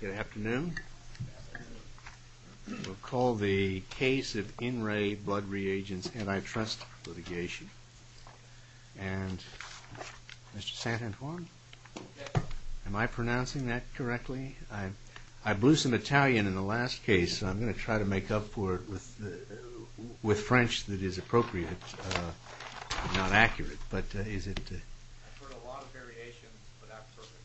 Good afternoon. We'll call the case of In Re Blood Reagents antitrust litigation. And, Mr. St-Antoine? Am I pronouncing that correctly? I blew some Italian in the speech that is appropriate, not accurate. I've heard a lot of variations for that purpose.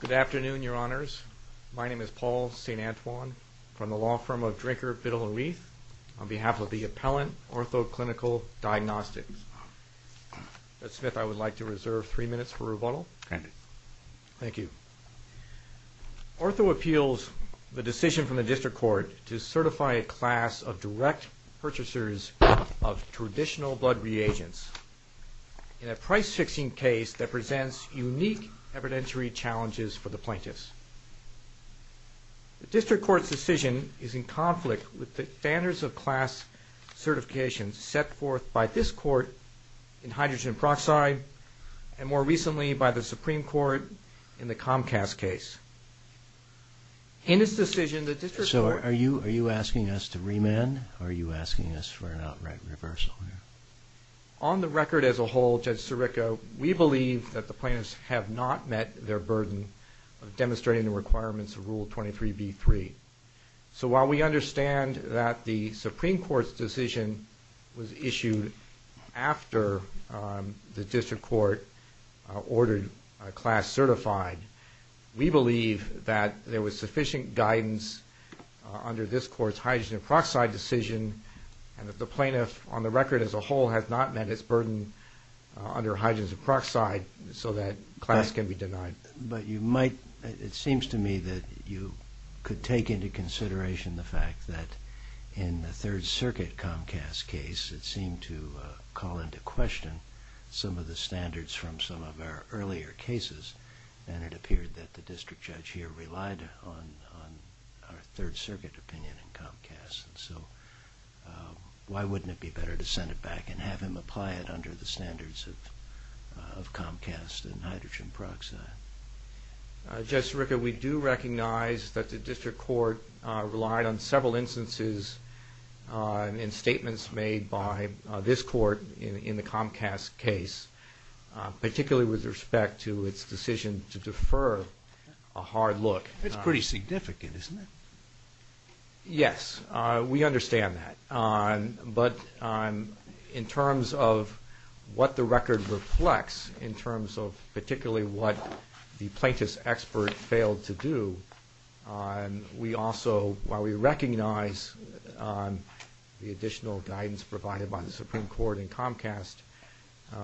Good afternoon, Your Honors. My name is Paul St-Antoine. I'm from the law firm of Drinker Fiddle and Reith on behalf of the Appellant Ortho Clinical Diagnostics. Mr. Smith, I would like to reserve three minutes for rebuttal. Thank you. Ortho appeals the decision from the District Court to certify a class of direct purchasers of traditional blood reagents in a price-fixing case that presents unique evidentiary challenges for the plaintiffs. The District Court's decision is in conflict with the standards of class certifications set forth by this Court in hydrogen peroxide and, more recently, by the Supreme Court in the Comcast case. In its decision, the District Court... So, are you asking us to remand or are you asking us for an outright reversal? On the record as a whole, Judge Sirico, we believe that the plaintiffs have not met their burden of demonstrating the requirements of Rule 23b-3. So, while we understand that the Supreme Court's decision was issued after the District Court ordered a class certified, we believe that there was sufficient guidance under this Court's hydrogen peroxide decision and that the plaintiff, on the record as a whole, has not met its burden under hydrogen peroxide so that class can be denied. But you might... It seems to me that you could take into consideration the fact that in the Third Circuit Comcast case, it seemed to call into question some of the standards from some of our earlier cases and it appeared that the District Judge here relied on our Third Circuit opinion in applying it under the standards of Comcast and hydrogen peroxide. Judge Sirico, we do recognize that the District Court relied on several instances and statements made by this Court in the Comcast case, particularly with respect to its decision to defer a hard look. It's pretty significant, isn't it? Yes, we understand that. But in terms of the record reflects, in terms of particularly what the plaintiff's expert failed to do, we also, while we recognize the additional guidance provided by the Supreme Court in Comcast,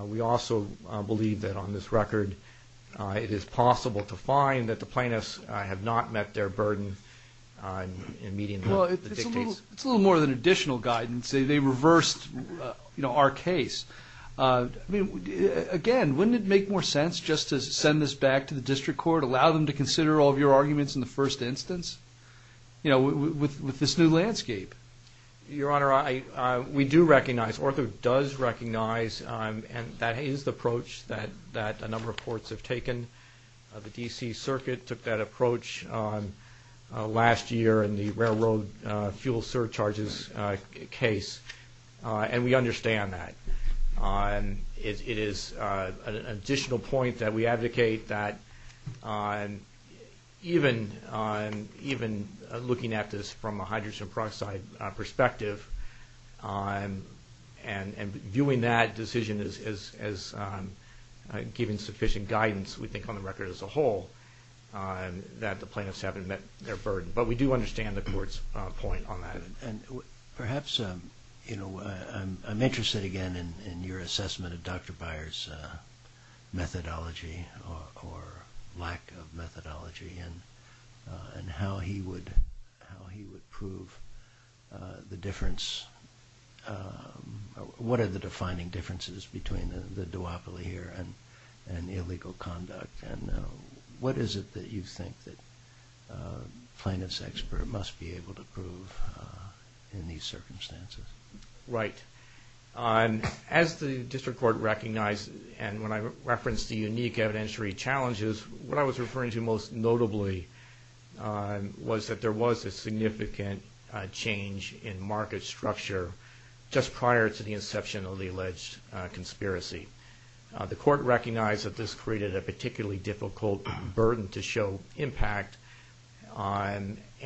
we also believe that on this record it is possible to find that the plaintiffs have not met their burden in meeting the dictates. Well, it's a little more than additional guidance. They reversed our case. Again, wouldn't it make more sense just to send this back to the District Court, allow them to consider all of your arguments in the first instance with this new landscape? Your Honor, we do recognize, ORCA does recognize, and that is the approach that a number of courts have taken. The D.C. Circuit took that case, and we understand that. It is an additional point that we advocate that even looking at this from a hydrogen peroxide perspective and viewing that decision as giving sufficient guidance, we think on the record as a whole, that the plaintiffs haven't met their burden. But we do understand the Court's point on that. Perhaps, you know, I'm interested again in your assessment of Dr. Byers' methodology or lack of methodology and how he would prove the difference. What are the defining differences between the duopoly here and illegal conduct? And what is it that you think that plaintiffs expert must be able to prove in these circumstances? Right. As the District Court recognized, and when I referenced the unique evidentiary challenges, what I was referring to most notably was that there was a significant change in market structure just prior to the inception of the alleged conspiracy. The Court recognized that this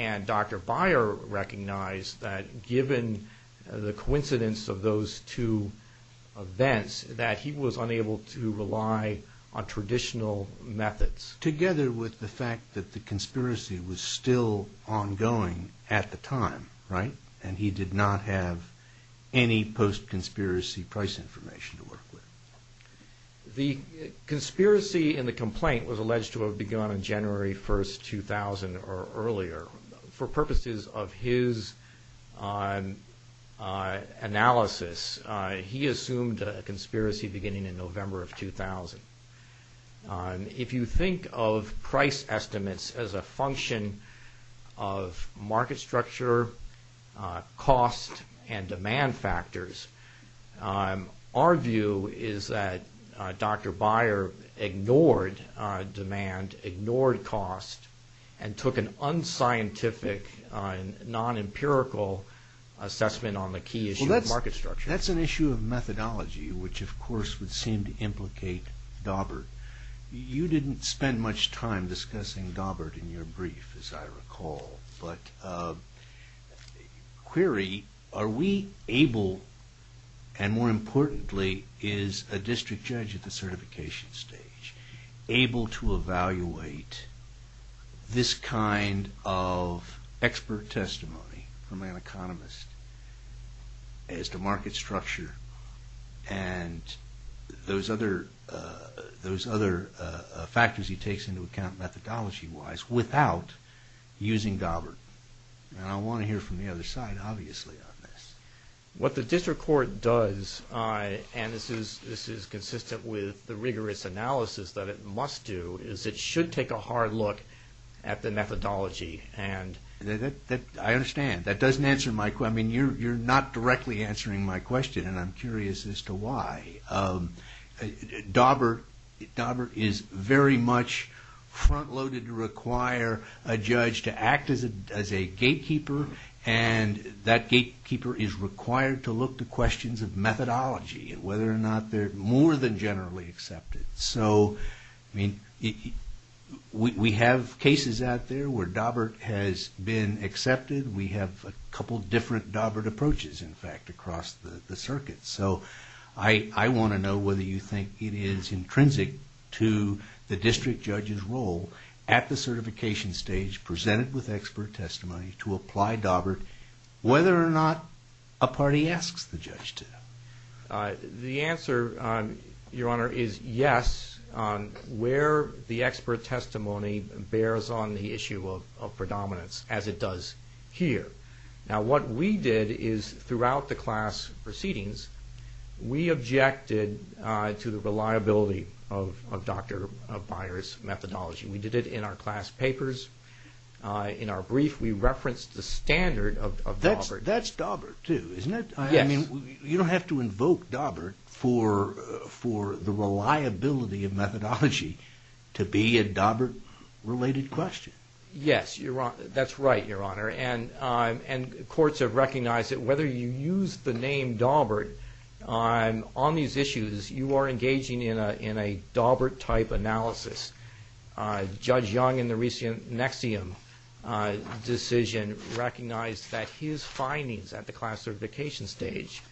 and Dr. Byers recognized that given the coincidence of those two events that he was unable to rely on traditional methods. Together with the fact that the conspiracy was still ongoing at the time, right? And he did not have any post-conspiracy price information to work with. The conspiracy in the complaint was alleged to have begun on January 1st, 2000 or earlier. For purposes of his analysis, he assumed a conspiracy beginning in November of 2000. If you think of price estimates as a function of market structure, cost, and demand factors, our view is that Dr. Byer ignored demand, ignored cost, and took an unscientific, non-empirical assessment on the key issue of market structure. That's an issue of methodology, which of course would seem to implicate Daubert. You didn't spend much time discussing Daubert in your brief, as I recall. But query, are we able and more importantly, is a district judge at the certification stage able to evaluate this kind of expert testimony from an economist as to market structure and those other factors he takes into account methodology-wise without using Daubert? I want to hear from the other side, obviously, on this. What the district court does, and this is consistent with the rigorous analysis that it must do, is it should take a hard look at the methodology. I understand. That doesn't answer my question. I mean, you're not directly answering my question and I'm curious as to why. Daubert is very much front-loaded to require a judge to act as a gatekeeper, and that gatekeeper is required to look to questions of methodology and whether or not they're more than generally accepted. So we have cases out there where Daubert has been accepted. We have a couple different Daubert approaches, in fact, across the circuit. So I want to know whether you think it is intrinsic to the district judge's role at the certification stage, presented with expert testimony, to apply Daubert whether or not a party asks the judge to? The answer, Your Honor, is yes on where the expert testimony bears on the issue of predominance as it does here. Now what we did is throughout the class proceedings we objected to the reliability of Dr. Byers' methodology. We did it in our class papers. In our brief we referenced the standard of Daubert. That's Daubert too, isn't it? Yes. I mean, you don't have to invoke Daubert for the reliability of methodology to be a Daubert related question. Yes, that's right, Your Honor, and courts have recognized that whether you use the name Daubert on these issues, you are engaging in a Daubert-type analysis. Judge Young in the recent NXIVM decision recognized that his findings at the class certification stage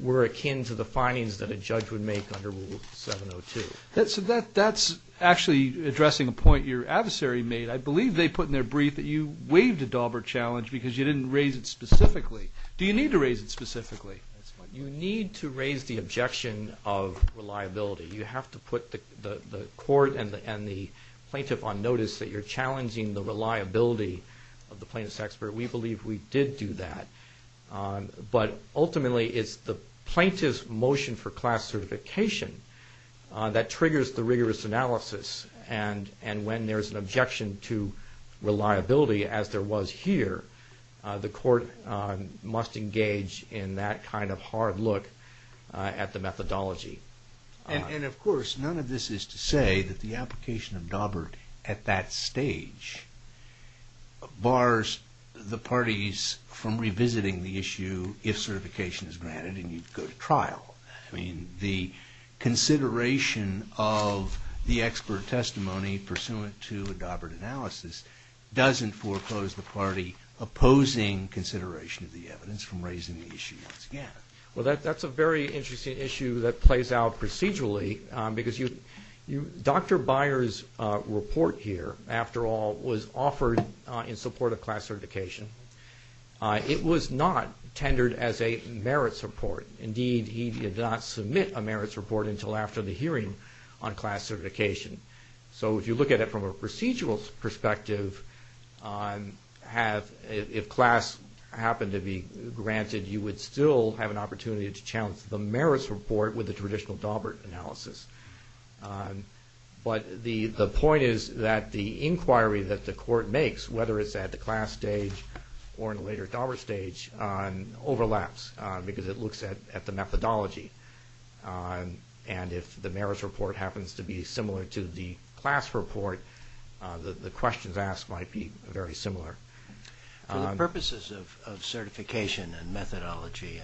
were akin to the findings that a judge would make under Rule 702. That's actually addressing a point your adversary made. I believe they put in their brief that you waived a Daubert challenge because you didn't raise it specifically. Do you need to raise it specifically? You need to raise the objection of reliability. You have to put the court and the plaintiff on notice that you're challenging the reliability of the plaintiff's expert. We believe we did do that, but ultimately it's the plaintiff's motion for class certification that triggers the rigorous analysis, and when there's an objection to reliability as there was here, the court must engage in that kind of hard look at the methodology. And of course, none of this is to say that the application of Daubert at that stage bars the parties from revisiting the issue if certification is granted and you go to trial. I mean, the consideration of the expert testimony pursuant to a Daubert analysis doesn't foreclose the party opposing consideration of the evidence from raising the issue once again. Well, that's a very interesting issue that plays out procedurally because Dr. Byers' report here, after all, was offered in support of class certification. It was not tendered as a merits report. Indeed, he did not submit a merits report until after the hearing on the matter. If class happened to be granted, you would still have an opportunity to challenge the merits report with the traditional Daubert analysis. But the point is that the inquiry that the court makes, whether it's at the class stage or in a later Daubert stage, overlaps because it looks at the methodology. And if the merits report happens to be similar to the class report, the questions asked might be very similar. For the purposes of certification and methodology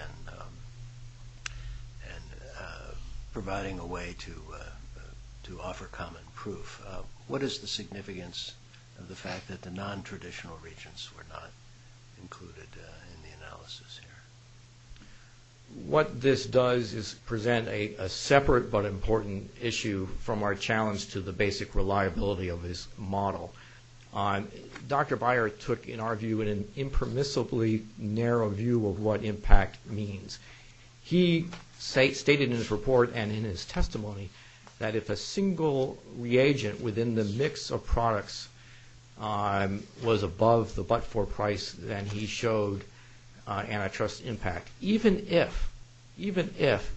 and providing a way to offer common proof, what is the significance of the fact that the nontraditional regents were not included in the analysis here? What this does is present a separate but important issue from our challenge to the basic reliability of this model. Dr. Byers took, in our view, an impermissibly narrow view of what impact means. He stated in his report and in his testimony that if a single reagent within the mix of products was above the but-for price, then he showed antitrust impact. Even if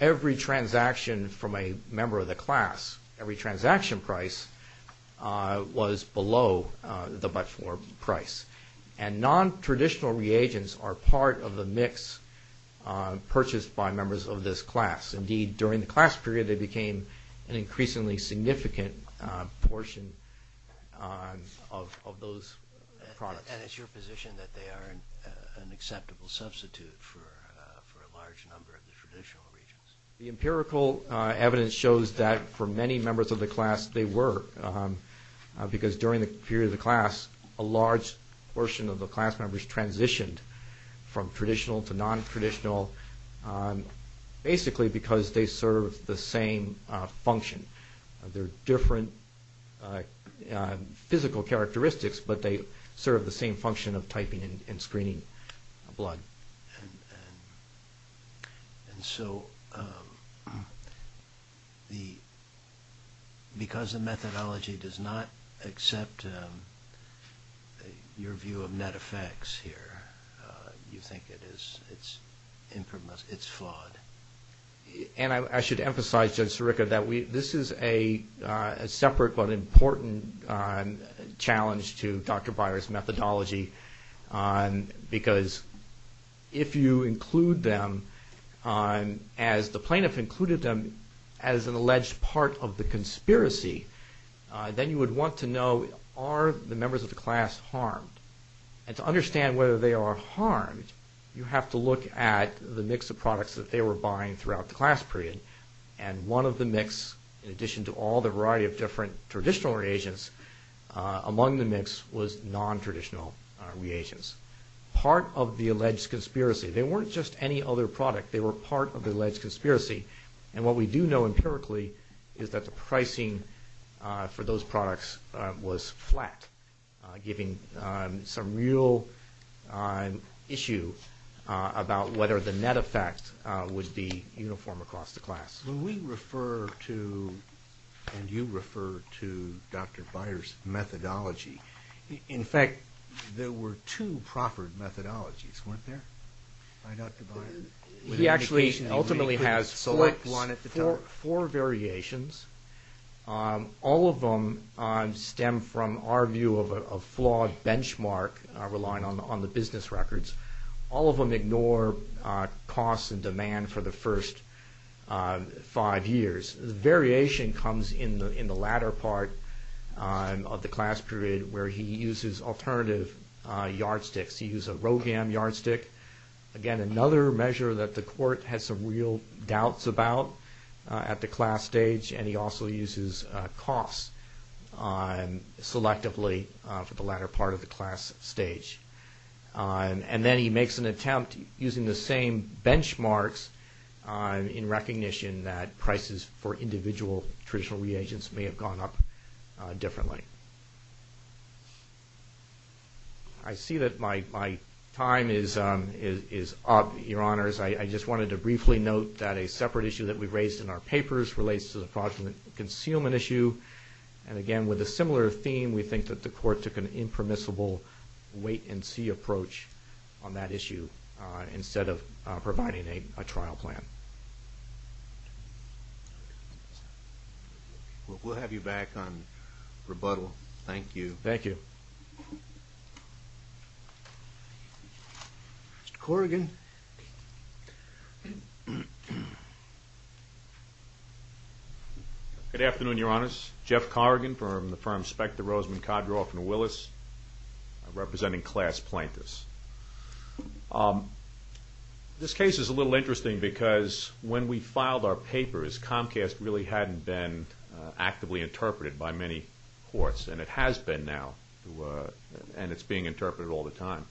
every transaction from a member of the class, every transaction price, was below the but-for price. And nontraditional reagents are part of the mix purchased by members of this class. Indeed, during the class period, they became an increasingly significant portion of those products. And it's your position that they are an acceptable substitute for a large number of the traditional reagents? The empirical evidence shows that for many members of the class, they were. Because during the period of the class, a large portion of the class members transitioned from traditional to nontraditional, basically because they served the same function. There are different physical characteristics, but they serve the same function of typing and screening blood. Because the methodology does not accept your view of net effects here, you think it's flawed? And I should emphasize, Judge Sirica, that this is a separate but important challenge to Dr. Byer's methodology. Because if you include them, as the plaintiff included them as an alleged part of the conspiracy, then you would want to know, are the members of the class harmed? And to understand whether they are harmed, you have to look at the mix of products that they were buying throughout the class period. And one of the mix, in addition to all the variety of different traditional reagents, among the mix was nontraditional reagents. Part of the alleged conspiracy, they weren't just any other product, they were part of the alleged conspiracy. And what we do know empirically is that the pricing for those products was flat, giving some real issue about whether the net effect of the product would be uniform across the class. When we refer to, and you refer to, Dr. Byer's methodology, in fact, there were two proffered methodologies, weren't there, by Dr. Byer? He actually ultimately has four variations. All of them stem from our view of a flawed benchmark, relying on the business records. All of them ignore costs and demand for the first five years. The variation comes in the latter part of the class period, where he uses alternative yardsticks. He used a Rogam yardstick, again, another measure that the court had some real doubts about at the class stage, and he also uses costs selectively for the latter part of the class stage. And then he makes an attempt, using the same benchmarks, in recognition that prices for individual traditional reagents may have gone up differently. I see that my time is up, your honors. I just wanted to briefly note that a separate issue that we raised in our papers relates to the product and the concealment issue. And again, with a similar theme, we think that the court took an impermissible wait-and-see approach on that issue, instead of providing a trial plan. We'll have you back on rebuttal. Thank you. Mr. Corrigan. Good afternoon, your honors. Jeff Corrigan from the firm Specter, Roseman, Kodroff & Willis, representing Class Plaintiffs. This case is a little interesting because when we filed our papers, Comcast really hadn't been actively interpreted by many courts, and it has been now, and it's being interpreted all the time.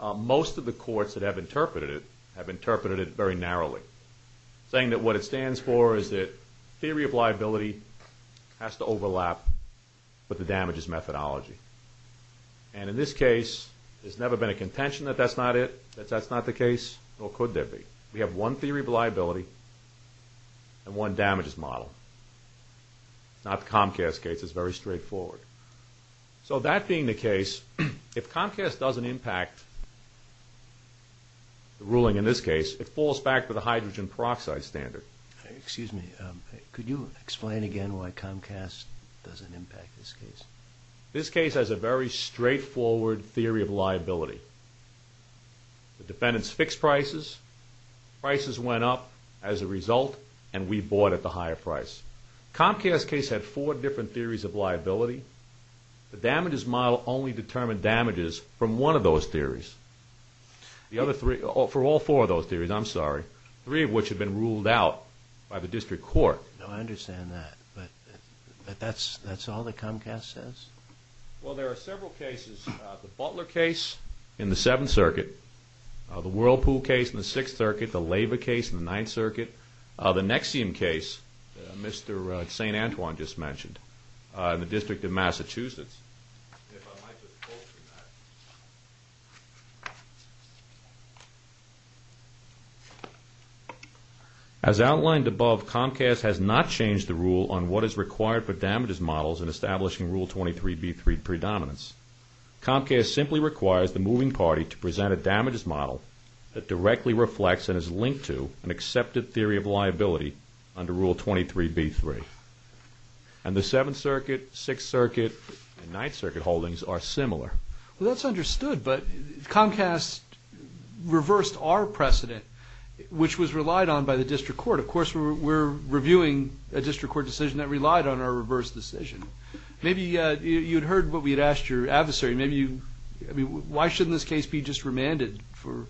Most of the courts that have interpreted it have interpreted it very narrowly, saying that what it stands for is that theory of liability has to overlap with the damages methodology. And in this case, there's never been a contention that that's not it, that that's not the case, nor could there be. We have one theory of liability and one damages model. It's not the Comcast case. It's very straightforward. So that being the case, if Comcast doesn't impact the ruling in this case, it falls back to the hydrogen peroxide standard. Excuse me, could you explain again why Comcast doesn't impact this case? This case has a very straightforward theory of liability. The defendants fixed prices, prices went up as a result, and we bought at the higher price. Comcast's case had four different theories of liability. The damages model only determined damages from one of those theories. The other three, for all four of those theories, I'm sorry, three of which had been ruled out by the district court. No, I understand that, but that's all that Comcast says? Well, there are several cases. The Butler case in the Seventh Circuit, the Whirlpool case in the Sixth Circuit, the Lava case in the Ninth Circuit, the Nexium case that Mr. St. Antoine just mentioned in the District of Massachusetts. As outlined above, Comcast has not changed the rule on what is required for damages models in establishing Rule 23b3 predominance. Comcast simply requires the moving party to present a damages model that directly reflects and is linked to an accepted theory of liability under Rule 23b3. And the Seventh Circuit, Sixth Circuit, and Ninth Circuit holdings are similar. Well, that's understood, but Comcast reversed our precedent, which was relied on by the district court. Of course, we're reviewing a district court decision that relied on our reverse decision. Maybe you'd heard what we'd asked your adversary. Maybe you, I mean, why shouldn't this case be just remanded for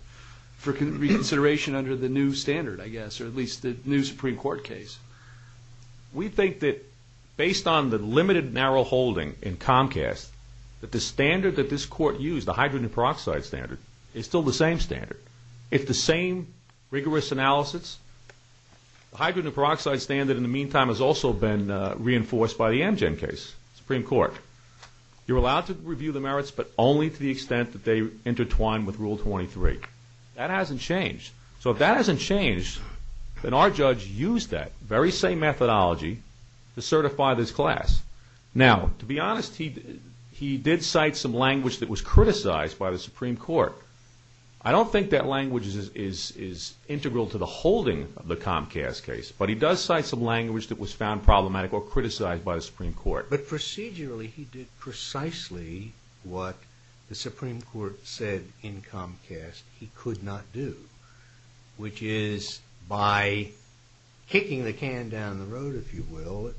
reconsideration under the new standard, I guess, or at least the new Supreme Court case? We think that based on the limited narrow holding in Comcast, that the standard that this court used, the hydrogen peroxide standard, is still the same standard. If the same rigorous analysis, the hydrogen peroxide standard in the meantime has also been reinforced by the Amgen case, Supreme Court. You're allowed to review the merits, but only to the extent that they intertwine with Rule 23. That hasn't changed. So if that hasn't changed, then our judge used that very same methodology to certify this class. Now, to be honest, he did cite some language that was criticized by the Supreme Court. I don't think that language is integral to the holding of the Comcast case, but he does cite some language that was found problematic or criticized by the Supreme Court. But procedurally, he did precisely what the Supreme Court said in Comcast he could not do, which is by kicking the can down the road, if you will, it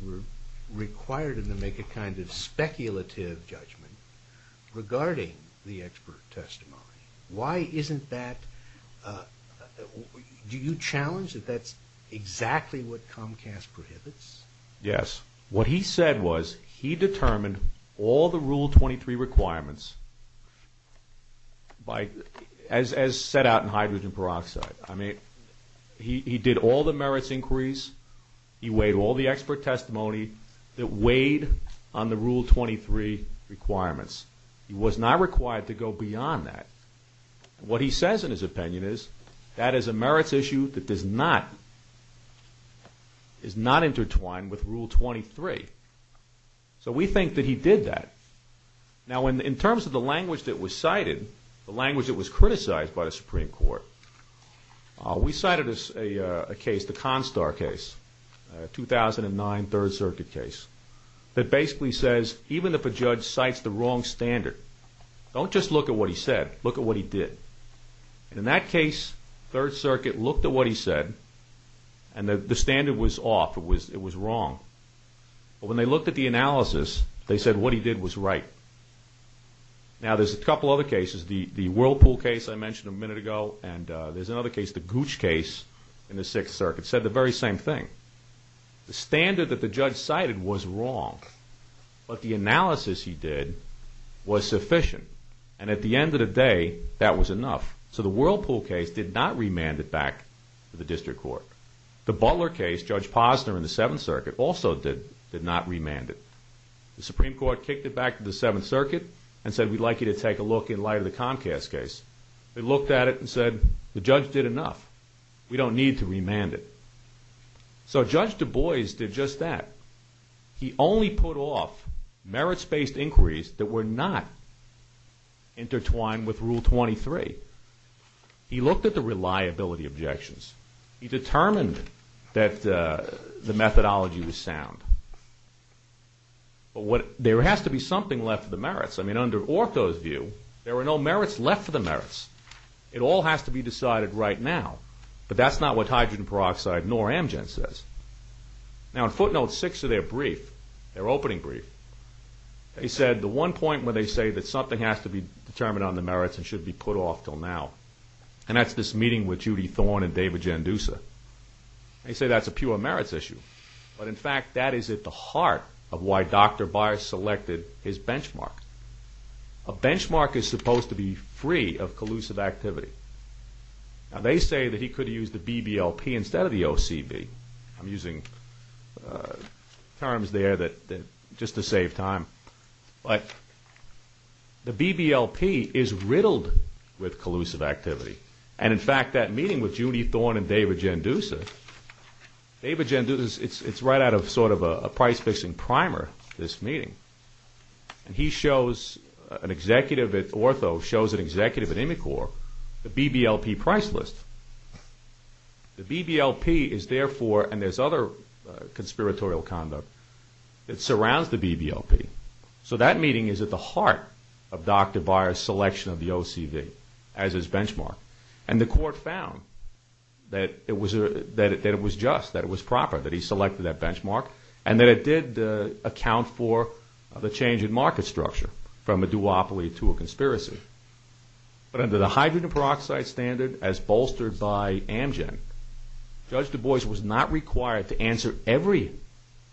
required him to make a kind of speculative judgment regarding the expert testimony. Why isn't that, do you challenge that that's exactly what Comcast prohibits? Yes. What he said was he determined all the Rule 23 requirements as set out in hydrogen peroxide. I mean, he did all the merits inquiries. He weighed all the expert testimony that weighed on the Rule 23 requirements. He was not required to go beyond that. What he says in his opinion is that is a merits issue that is not intertwined with Rule 23. So we think that he did that. Now in terms of the language that was cited, the language that was criticized by the Supreme Court, we cited a case, the Constar case, 2009 Third Circuit case, that basically says even if a judge cites the wrong standard, don't just look at what he said, look at what he did. And in that case, Third Circuit looked at what he said, and the standard was off, it was wrong. But when they looked at the analysis, they said what he did was right. Now there's a couple other cases, the Whirlpool case I mentioned a minute ago, and there's another case, the Gooch case in the Sixth Circuit, said the very same thing. The standard that the judge cited was wrong, but the analysis he did was sufficient. And at the end of the day, that was enough. So the Whirlpool case did not remand it back to the District Court. The Butler case, Judge Posner in the Seventh Circuit, also did not remand it. The Supreme Court kicked it back to the Seventh Circuit and said we'd like you to take a look in light of the Comcast case. They looked at it and said the judge did enough. We don't need to remand it. So Judge Du Bois did just that. He only put off merits-based inquiries that were not intertwined with Rule 23. He looked at the reliability objections. He determined that the methodology was sound. But there has to be something left for the merits. I mean, under Orko's view, there were no merits left for the merits. It all has to be decided right now. But that's not what hydrogen peroxide nor Amgen says. Now in Footnote 6 of their opening brief, they said the one point where they say that something has to be determined on the merits and should be put off until now. And that's this meeting with Judy Thorne and David Jandusa. They say that's a pure merits issue. But in fact, that is at the heart of why Dr. Byers selected his benchmark. A benchmark is supposed to be free of collusive activity. Now they say that he could use the BBLP instead of the OCB. I'm using terms there just to save time. But the BBLP is riddled with collusive activity. And in fact, that meeting with Judy Thorne and David Jandusa, David Jandusa, it's right out of sort of a price-fixing primer, this meeting. And he shows an executive at Ortho, shows an executive at Imicor, the BBLP price list. The BBLP is therefore, and there's other conspiratorial conduct that surrounds the BBLP. So that meeting is at the heart of Dr. Byers' selection of the OCB as his benchmark. And the court found that it was just, that it was proper, that he selected that benchmark. And that it did account for the change in market structure from a duopoly to a conspiracy. But under the hydrogen peroxide standard as bolstered by Amgen, Judge Du Bois was not required to answer every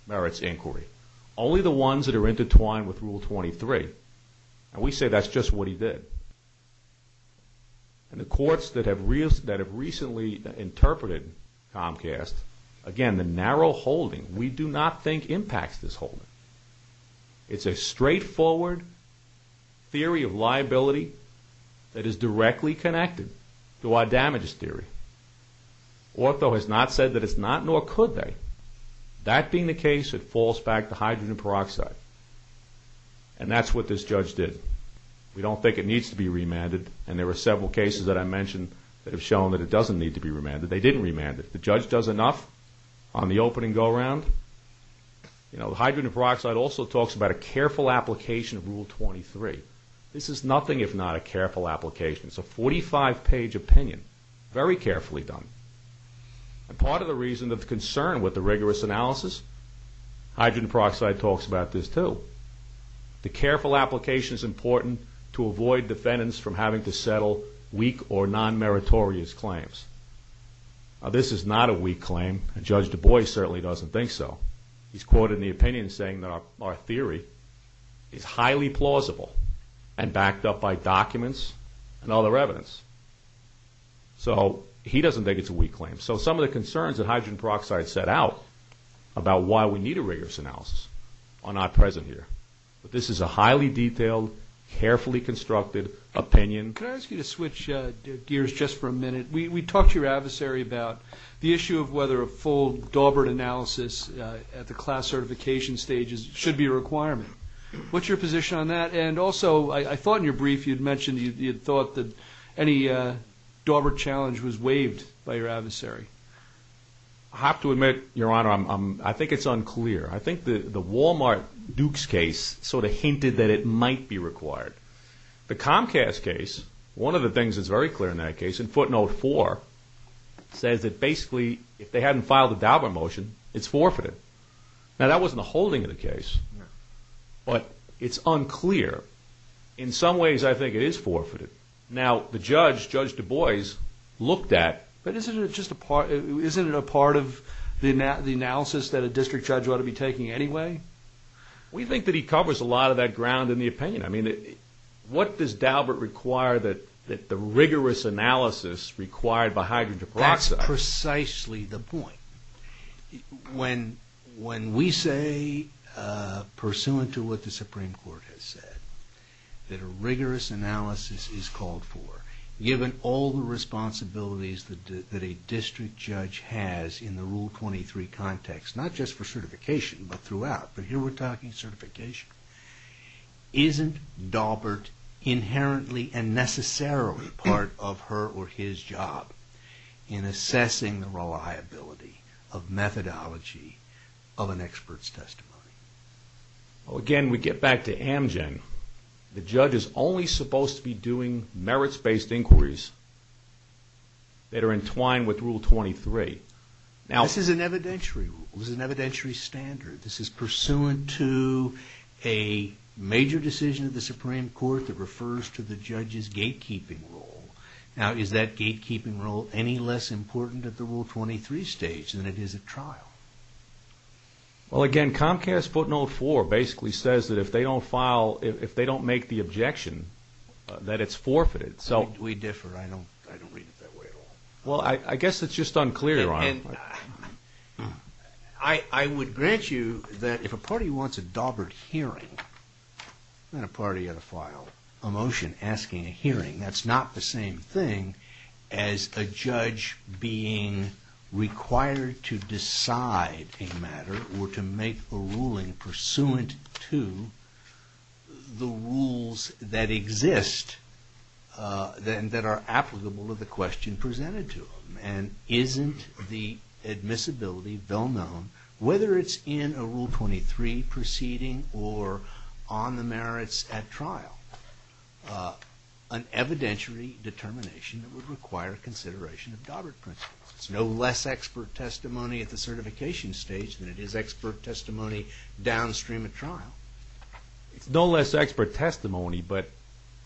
merits inquiry, only the ones that are intertwined with Rule 23. And we say that's just what he did. And the courts that have recently interpreted Comcast, again, the narrow holding, we do not think impacts this holding. It's a straightforward theory of liability that is directly connected to our damages theory. Ortho has not said that it's not, nor could they. That being the case, it falls back to hydrogen peroxide. And that's what this judge did. We don't think it needs to be remanded. And there were several cases that I mentioned that have shown that it doesn't need to be remanded. They didn't remand it. The judge does enough on the opening go-around. You know, hydrogen peroxide also talks about a careful application of Rule 23. This is again, very carefully done. And part of the reason of concern with the rigorous analysis, hydrogen peroxide talks about this too. The careful application is important to avoid defendants from having to settle weak or non-meritorious claims. This is not a weak claim, and Judge Du Bois certainly doesn't think so. He's quoted in the opinion saying that our theory is highly plausible and backed up by documents and other evidence. So he doesn't think it's a weak claim. So some of the concerns that hydrogen peroxide set out about why we need a rigorous analysis are not present here. But this is a highly detailed, carefully constructed opinion. Can I ask you to switch gears just for a minute? We talked to your adversary about the issue of whether a full Daubert analysis at the class certification stages should be a requirement. What's your position on that? And also, I thought in your brief you'd mentioned you'd thought that any Daubert challenge was waived by your adversary. I have to admit, Your Honor, I think it's unclear. I think the Walmart-Dukes case sort of hinted that it might be required. The Comcast case, one of the things that's very clear in that case, in footnote four, says that basically if they hadn't filed a Daubert motion, it's forfeited. Now, that wasn't the holding of the case. But it's unclear. In some ways, I think it is forfeited. Now, the judge, Judge Du Bois, looked at... But isn't it just a part, isn't it a part of the analysis that a district judge ought to be taking anyway? We think that he covers a lot of that ground in the opinion. I mean, what does Daubert require that the rigorous analysis required by hydrogen peroxide... That's precisely the point. When we say, pursuant to what the Supreme Court has said, that a rigorous analysis is called for, given all the responsibilities that a district judge has in the Rule 23 context, not just for certification, but throughout. But here we're talking certification. Isn't Daubert inherently and necessarily part of her or his job in assessing the reliability of methodology of an expert's testimony? Well, again, we get back to Amgen. The judge is only supposed to be doing merits-based inquiries that are entwined with Rule 23. This is an evidentiary rule. This is an evidentiary standard. This is pursuant to a major decision of the Supreme Court that refers to the judge's gatekeeping role. Now, is that gatekeeping role any less important at the Rule 23 stage than it is at trial? Well, again, Comcast footnote 4 basically says that if they don't file... If they don't make the objection, that it's forfeited. We differ. I don't read it that way at all. Well, I guess it's just unclear, Your Honor. I would grant you that if a party wants a Daubert hearing and a party had to file a motion asking a hearing, that's not the same thing as a judge being required to decide a matter or to make a ruling pursuant to the rules that exist and that are applicable to the question presented to them. And isn't the admissibility well-known, whether it's in a Rule 23 proceeding or on the merits at trial, an evidentiary determination that would require consideration of Daubert principles? It's no less expert testimony at the certification stage than it is expert testimony downstream at trial. It's no less expert testimony, but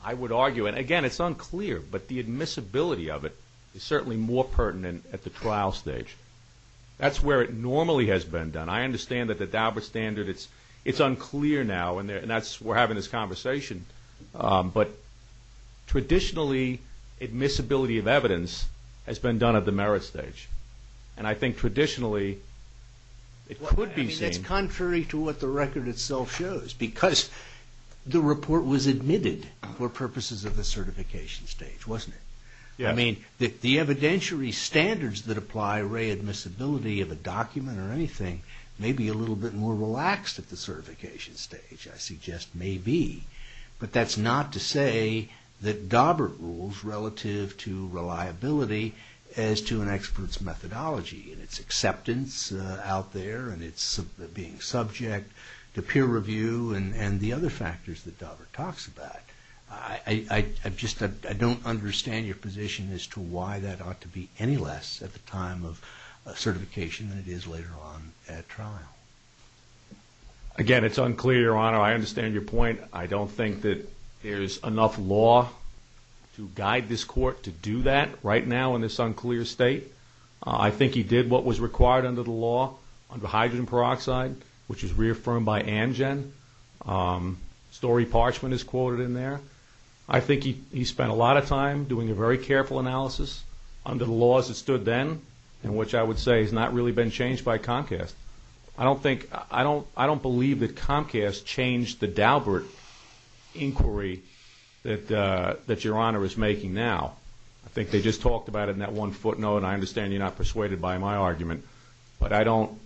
I would argue... And again, it's unclear, but the admissibility of it is certainly more pertinent at the trial stage. That's where it normally has been done. I understand that the Daubert standard, it's unclear now, and we're having this conversation. But traditionally, admissibility of evidence has been done at the merits stage. And I think traditionally, it could be seen... I mean, that's contrary to what the record itself shows, because the report was admitted for purposes of the certification stage, wasn't it? I mean, the evidentiary standards that apply, re-admissibility of a document or anything may be a little bit more relaxed at the certification stage. I suggest may be. But that's not to say that Daubert rules relative to reliability as to an expert's methodology and its acceptance out there and its being subject to peer review and the other factors that Daubert talks about. I just don't understand your position as to why that ought to be any less at the time of certification than it is later on at trial. Again, it's unclear, Your Honor. I understand your point. I don't think that there's enough law to guide this court to do that right now in this unclear state. I think he did what was required under the law under hydrogen peroxide, which was reaffirmed by Angen. Story Parchment is quoted in there. I think he spent a lot of time doing a very careful analysis under the laws that stood then and which I would say has not really been changed by Comcast. I don't believe that Comcast changed the Daubert inquiry that Your Honor is making now. I think they just talked about it in that one footnote. I understand you're not persuaded by my argument, but I don't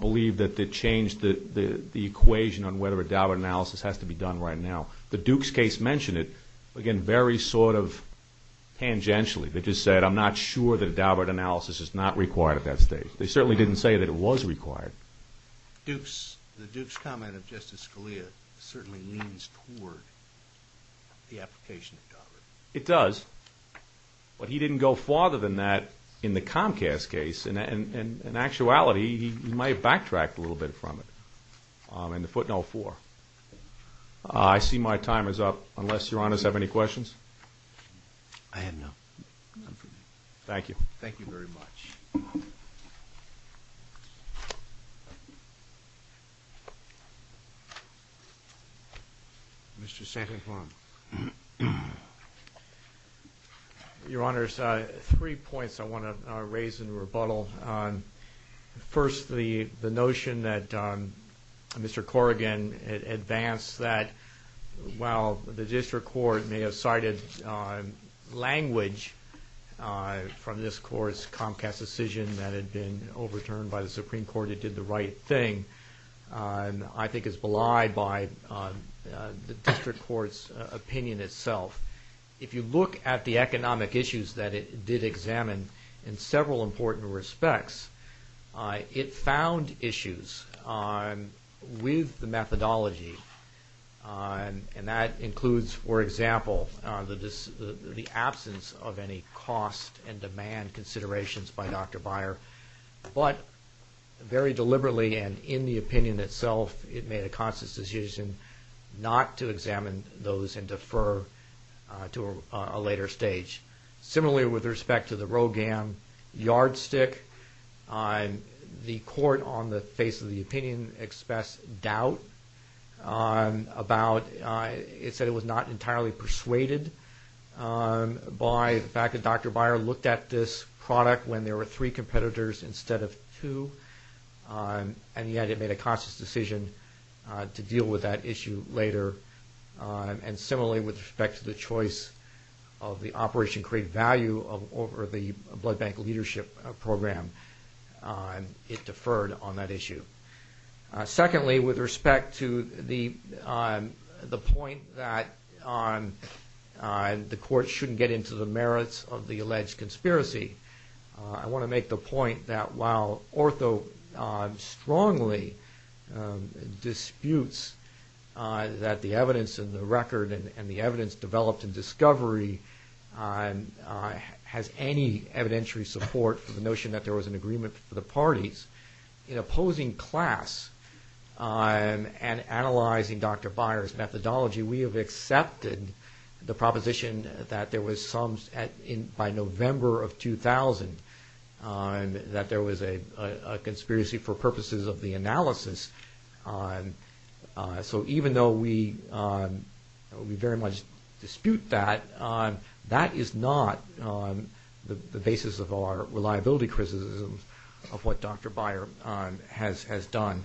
believe that they changed the equation on whether a Daubert analysis has to be done right now. The Dukes case mentioned it, again, very sort of tangentially. They just said, I'm not sure that a Daubert analysis is not required at that stage. They certainly didn't say that it was required. The Dukes comment of Justice Scalia certainly leans toward the application of Daubert. It does. But he didn't go farther than that in the Comcast case. In actuality, he might have backtracked a little bit from it in the footnote four. I see my time is up, unless Your Honors have any questions. I have none. Thank you. Thank you very much. Mr. Sankenhorn. Your Honors, three points I want to raise in rebuttal. First, the notion that Mr. Corrigan advanced that, while the district court may have cited language from this court's Comcast decision that had been overturned by the Supreme Court, it did the right thing, I think is belied by the district court's opinion itself. If you look at the economic issues that it did examine in several important respects, it found issues with the methodology, and that includes, for example, the absence of any cost and demand considerations by Dr. Beyer, but very deliberately and in the opinion itself, it made a conscious decision not to examine those and defer to a later stage. Similarly, with respect to the Rogam yardstick, the court on the face of the opinion expressed doubt about, it said it was not entirely persuaded by the fact that Dr. Beyer looked at this product when there were three competitors instead of two, and yet it made a conscious decision to deal with that issue later. And similarly, with respect to the choice of the Operation Create Value over the blood bank leadership program, it deferred on that issue. Secondly, with respect to the point that the court shouldn't get into the merits of the alleged conspiracy, I want to make the point that while Ortho strongly disputes that the evidence in the record and the evidence developed in discovery has any evidentiary support for the notion that there was an agreement for the parties, in opposing class and analyzing Dr. Beyer's methodology, we have accepted the proposition that there was some, by November of 2000, that there was a conspiracy for purposes of the analysis. So even though we very much dispute that, that is not the basis of our reliability criticisms of what Dr. Beyer has done.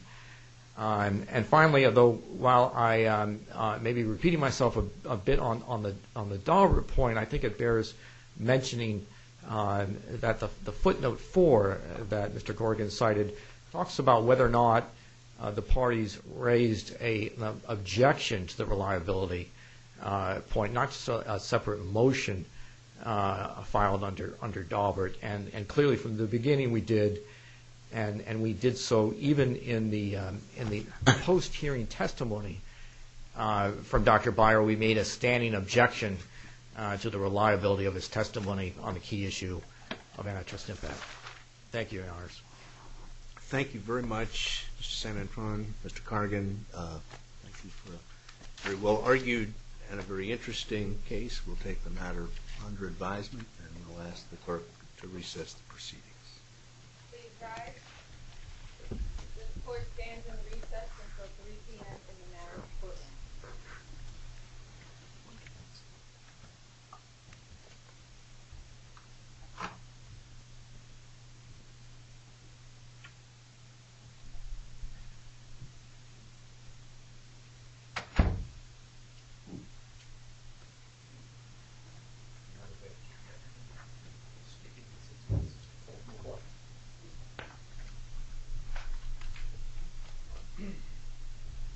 And finally, although while I may be repeating myself a bit on the Daubert point, I think it bears mentioning that the footnote four that Mr. Corrigan cited talks about whether or not the parties raised an objection to the reliability point, not just a separate motion filed under Daubert. And clearly from the beginning we did, and we did so even in the post-hearing testimony from Dr. Beyer, we made a standing objection to the reliability of his testimony on the key issue of antitrust impact. Thank you, Your Honors. Thank you very much, Mr. San Antoine, Mr. Corrigan. Thank you for a very well-argued and a very interesting case. We'll take the matter under advisement and we'll ask the court to recess the proceedings. Please rise. This court stands in recess until 3 p.m. in the National Court. Thank you.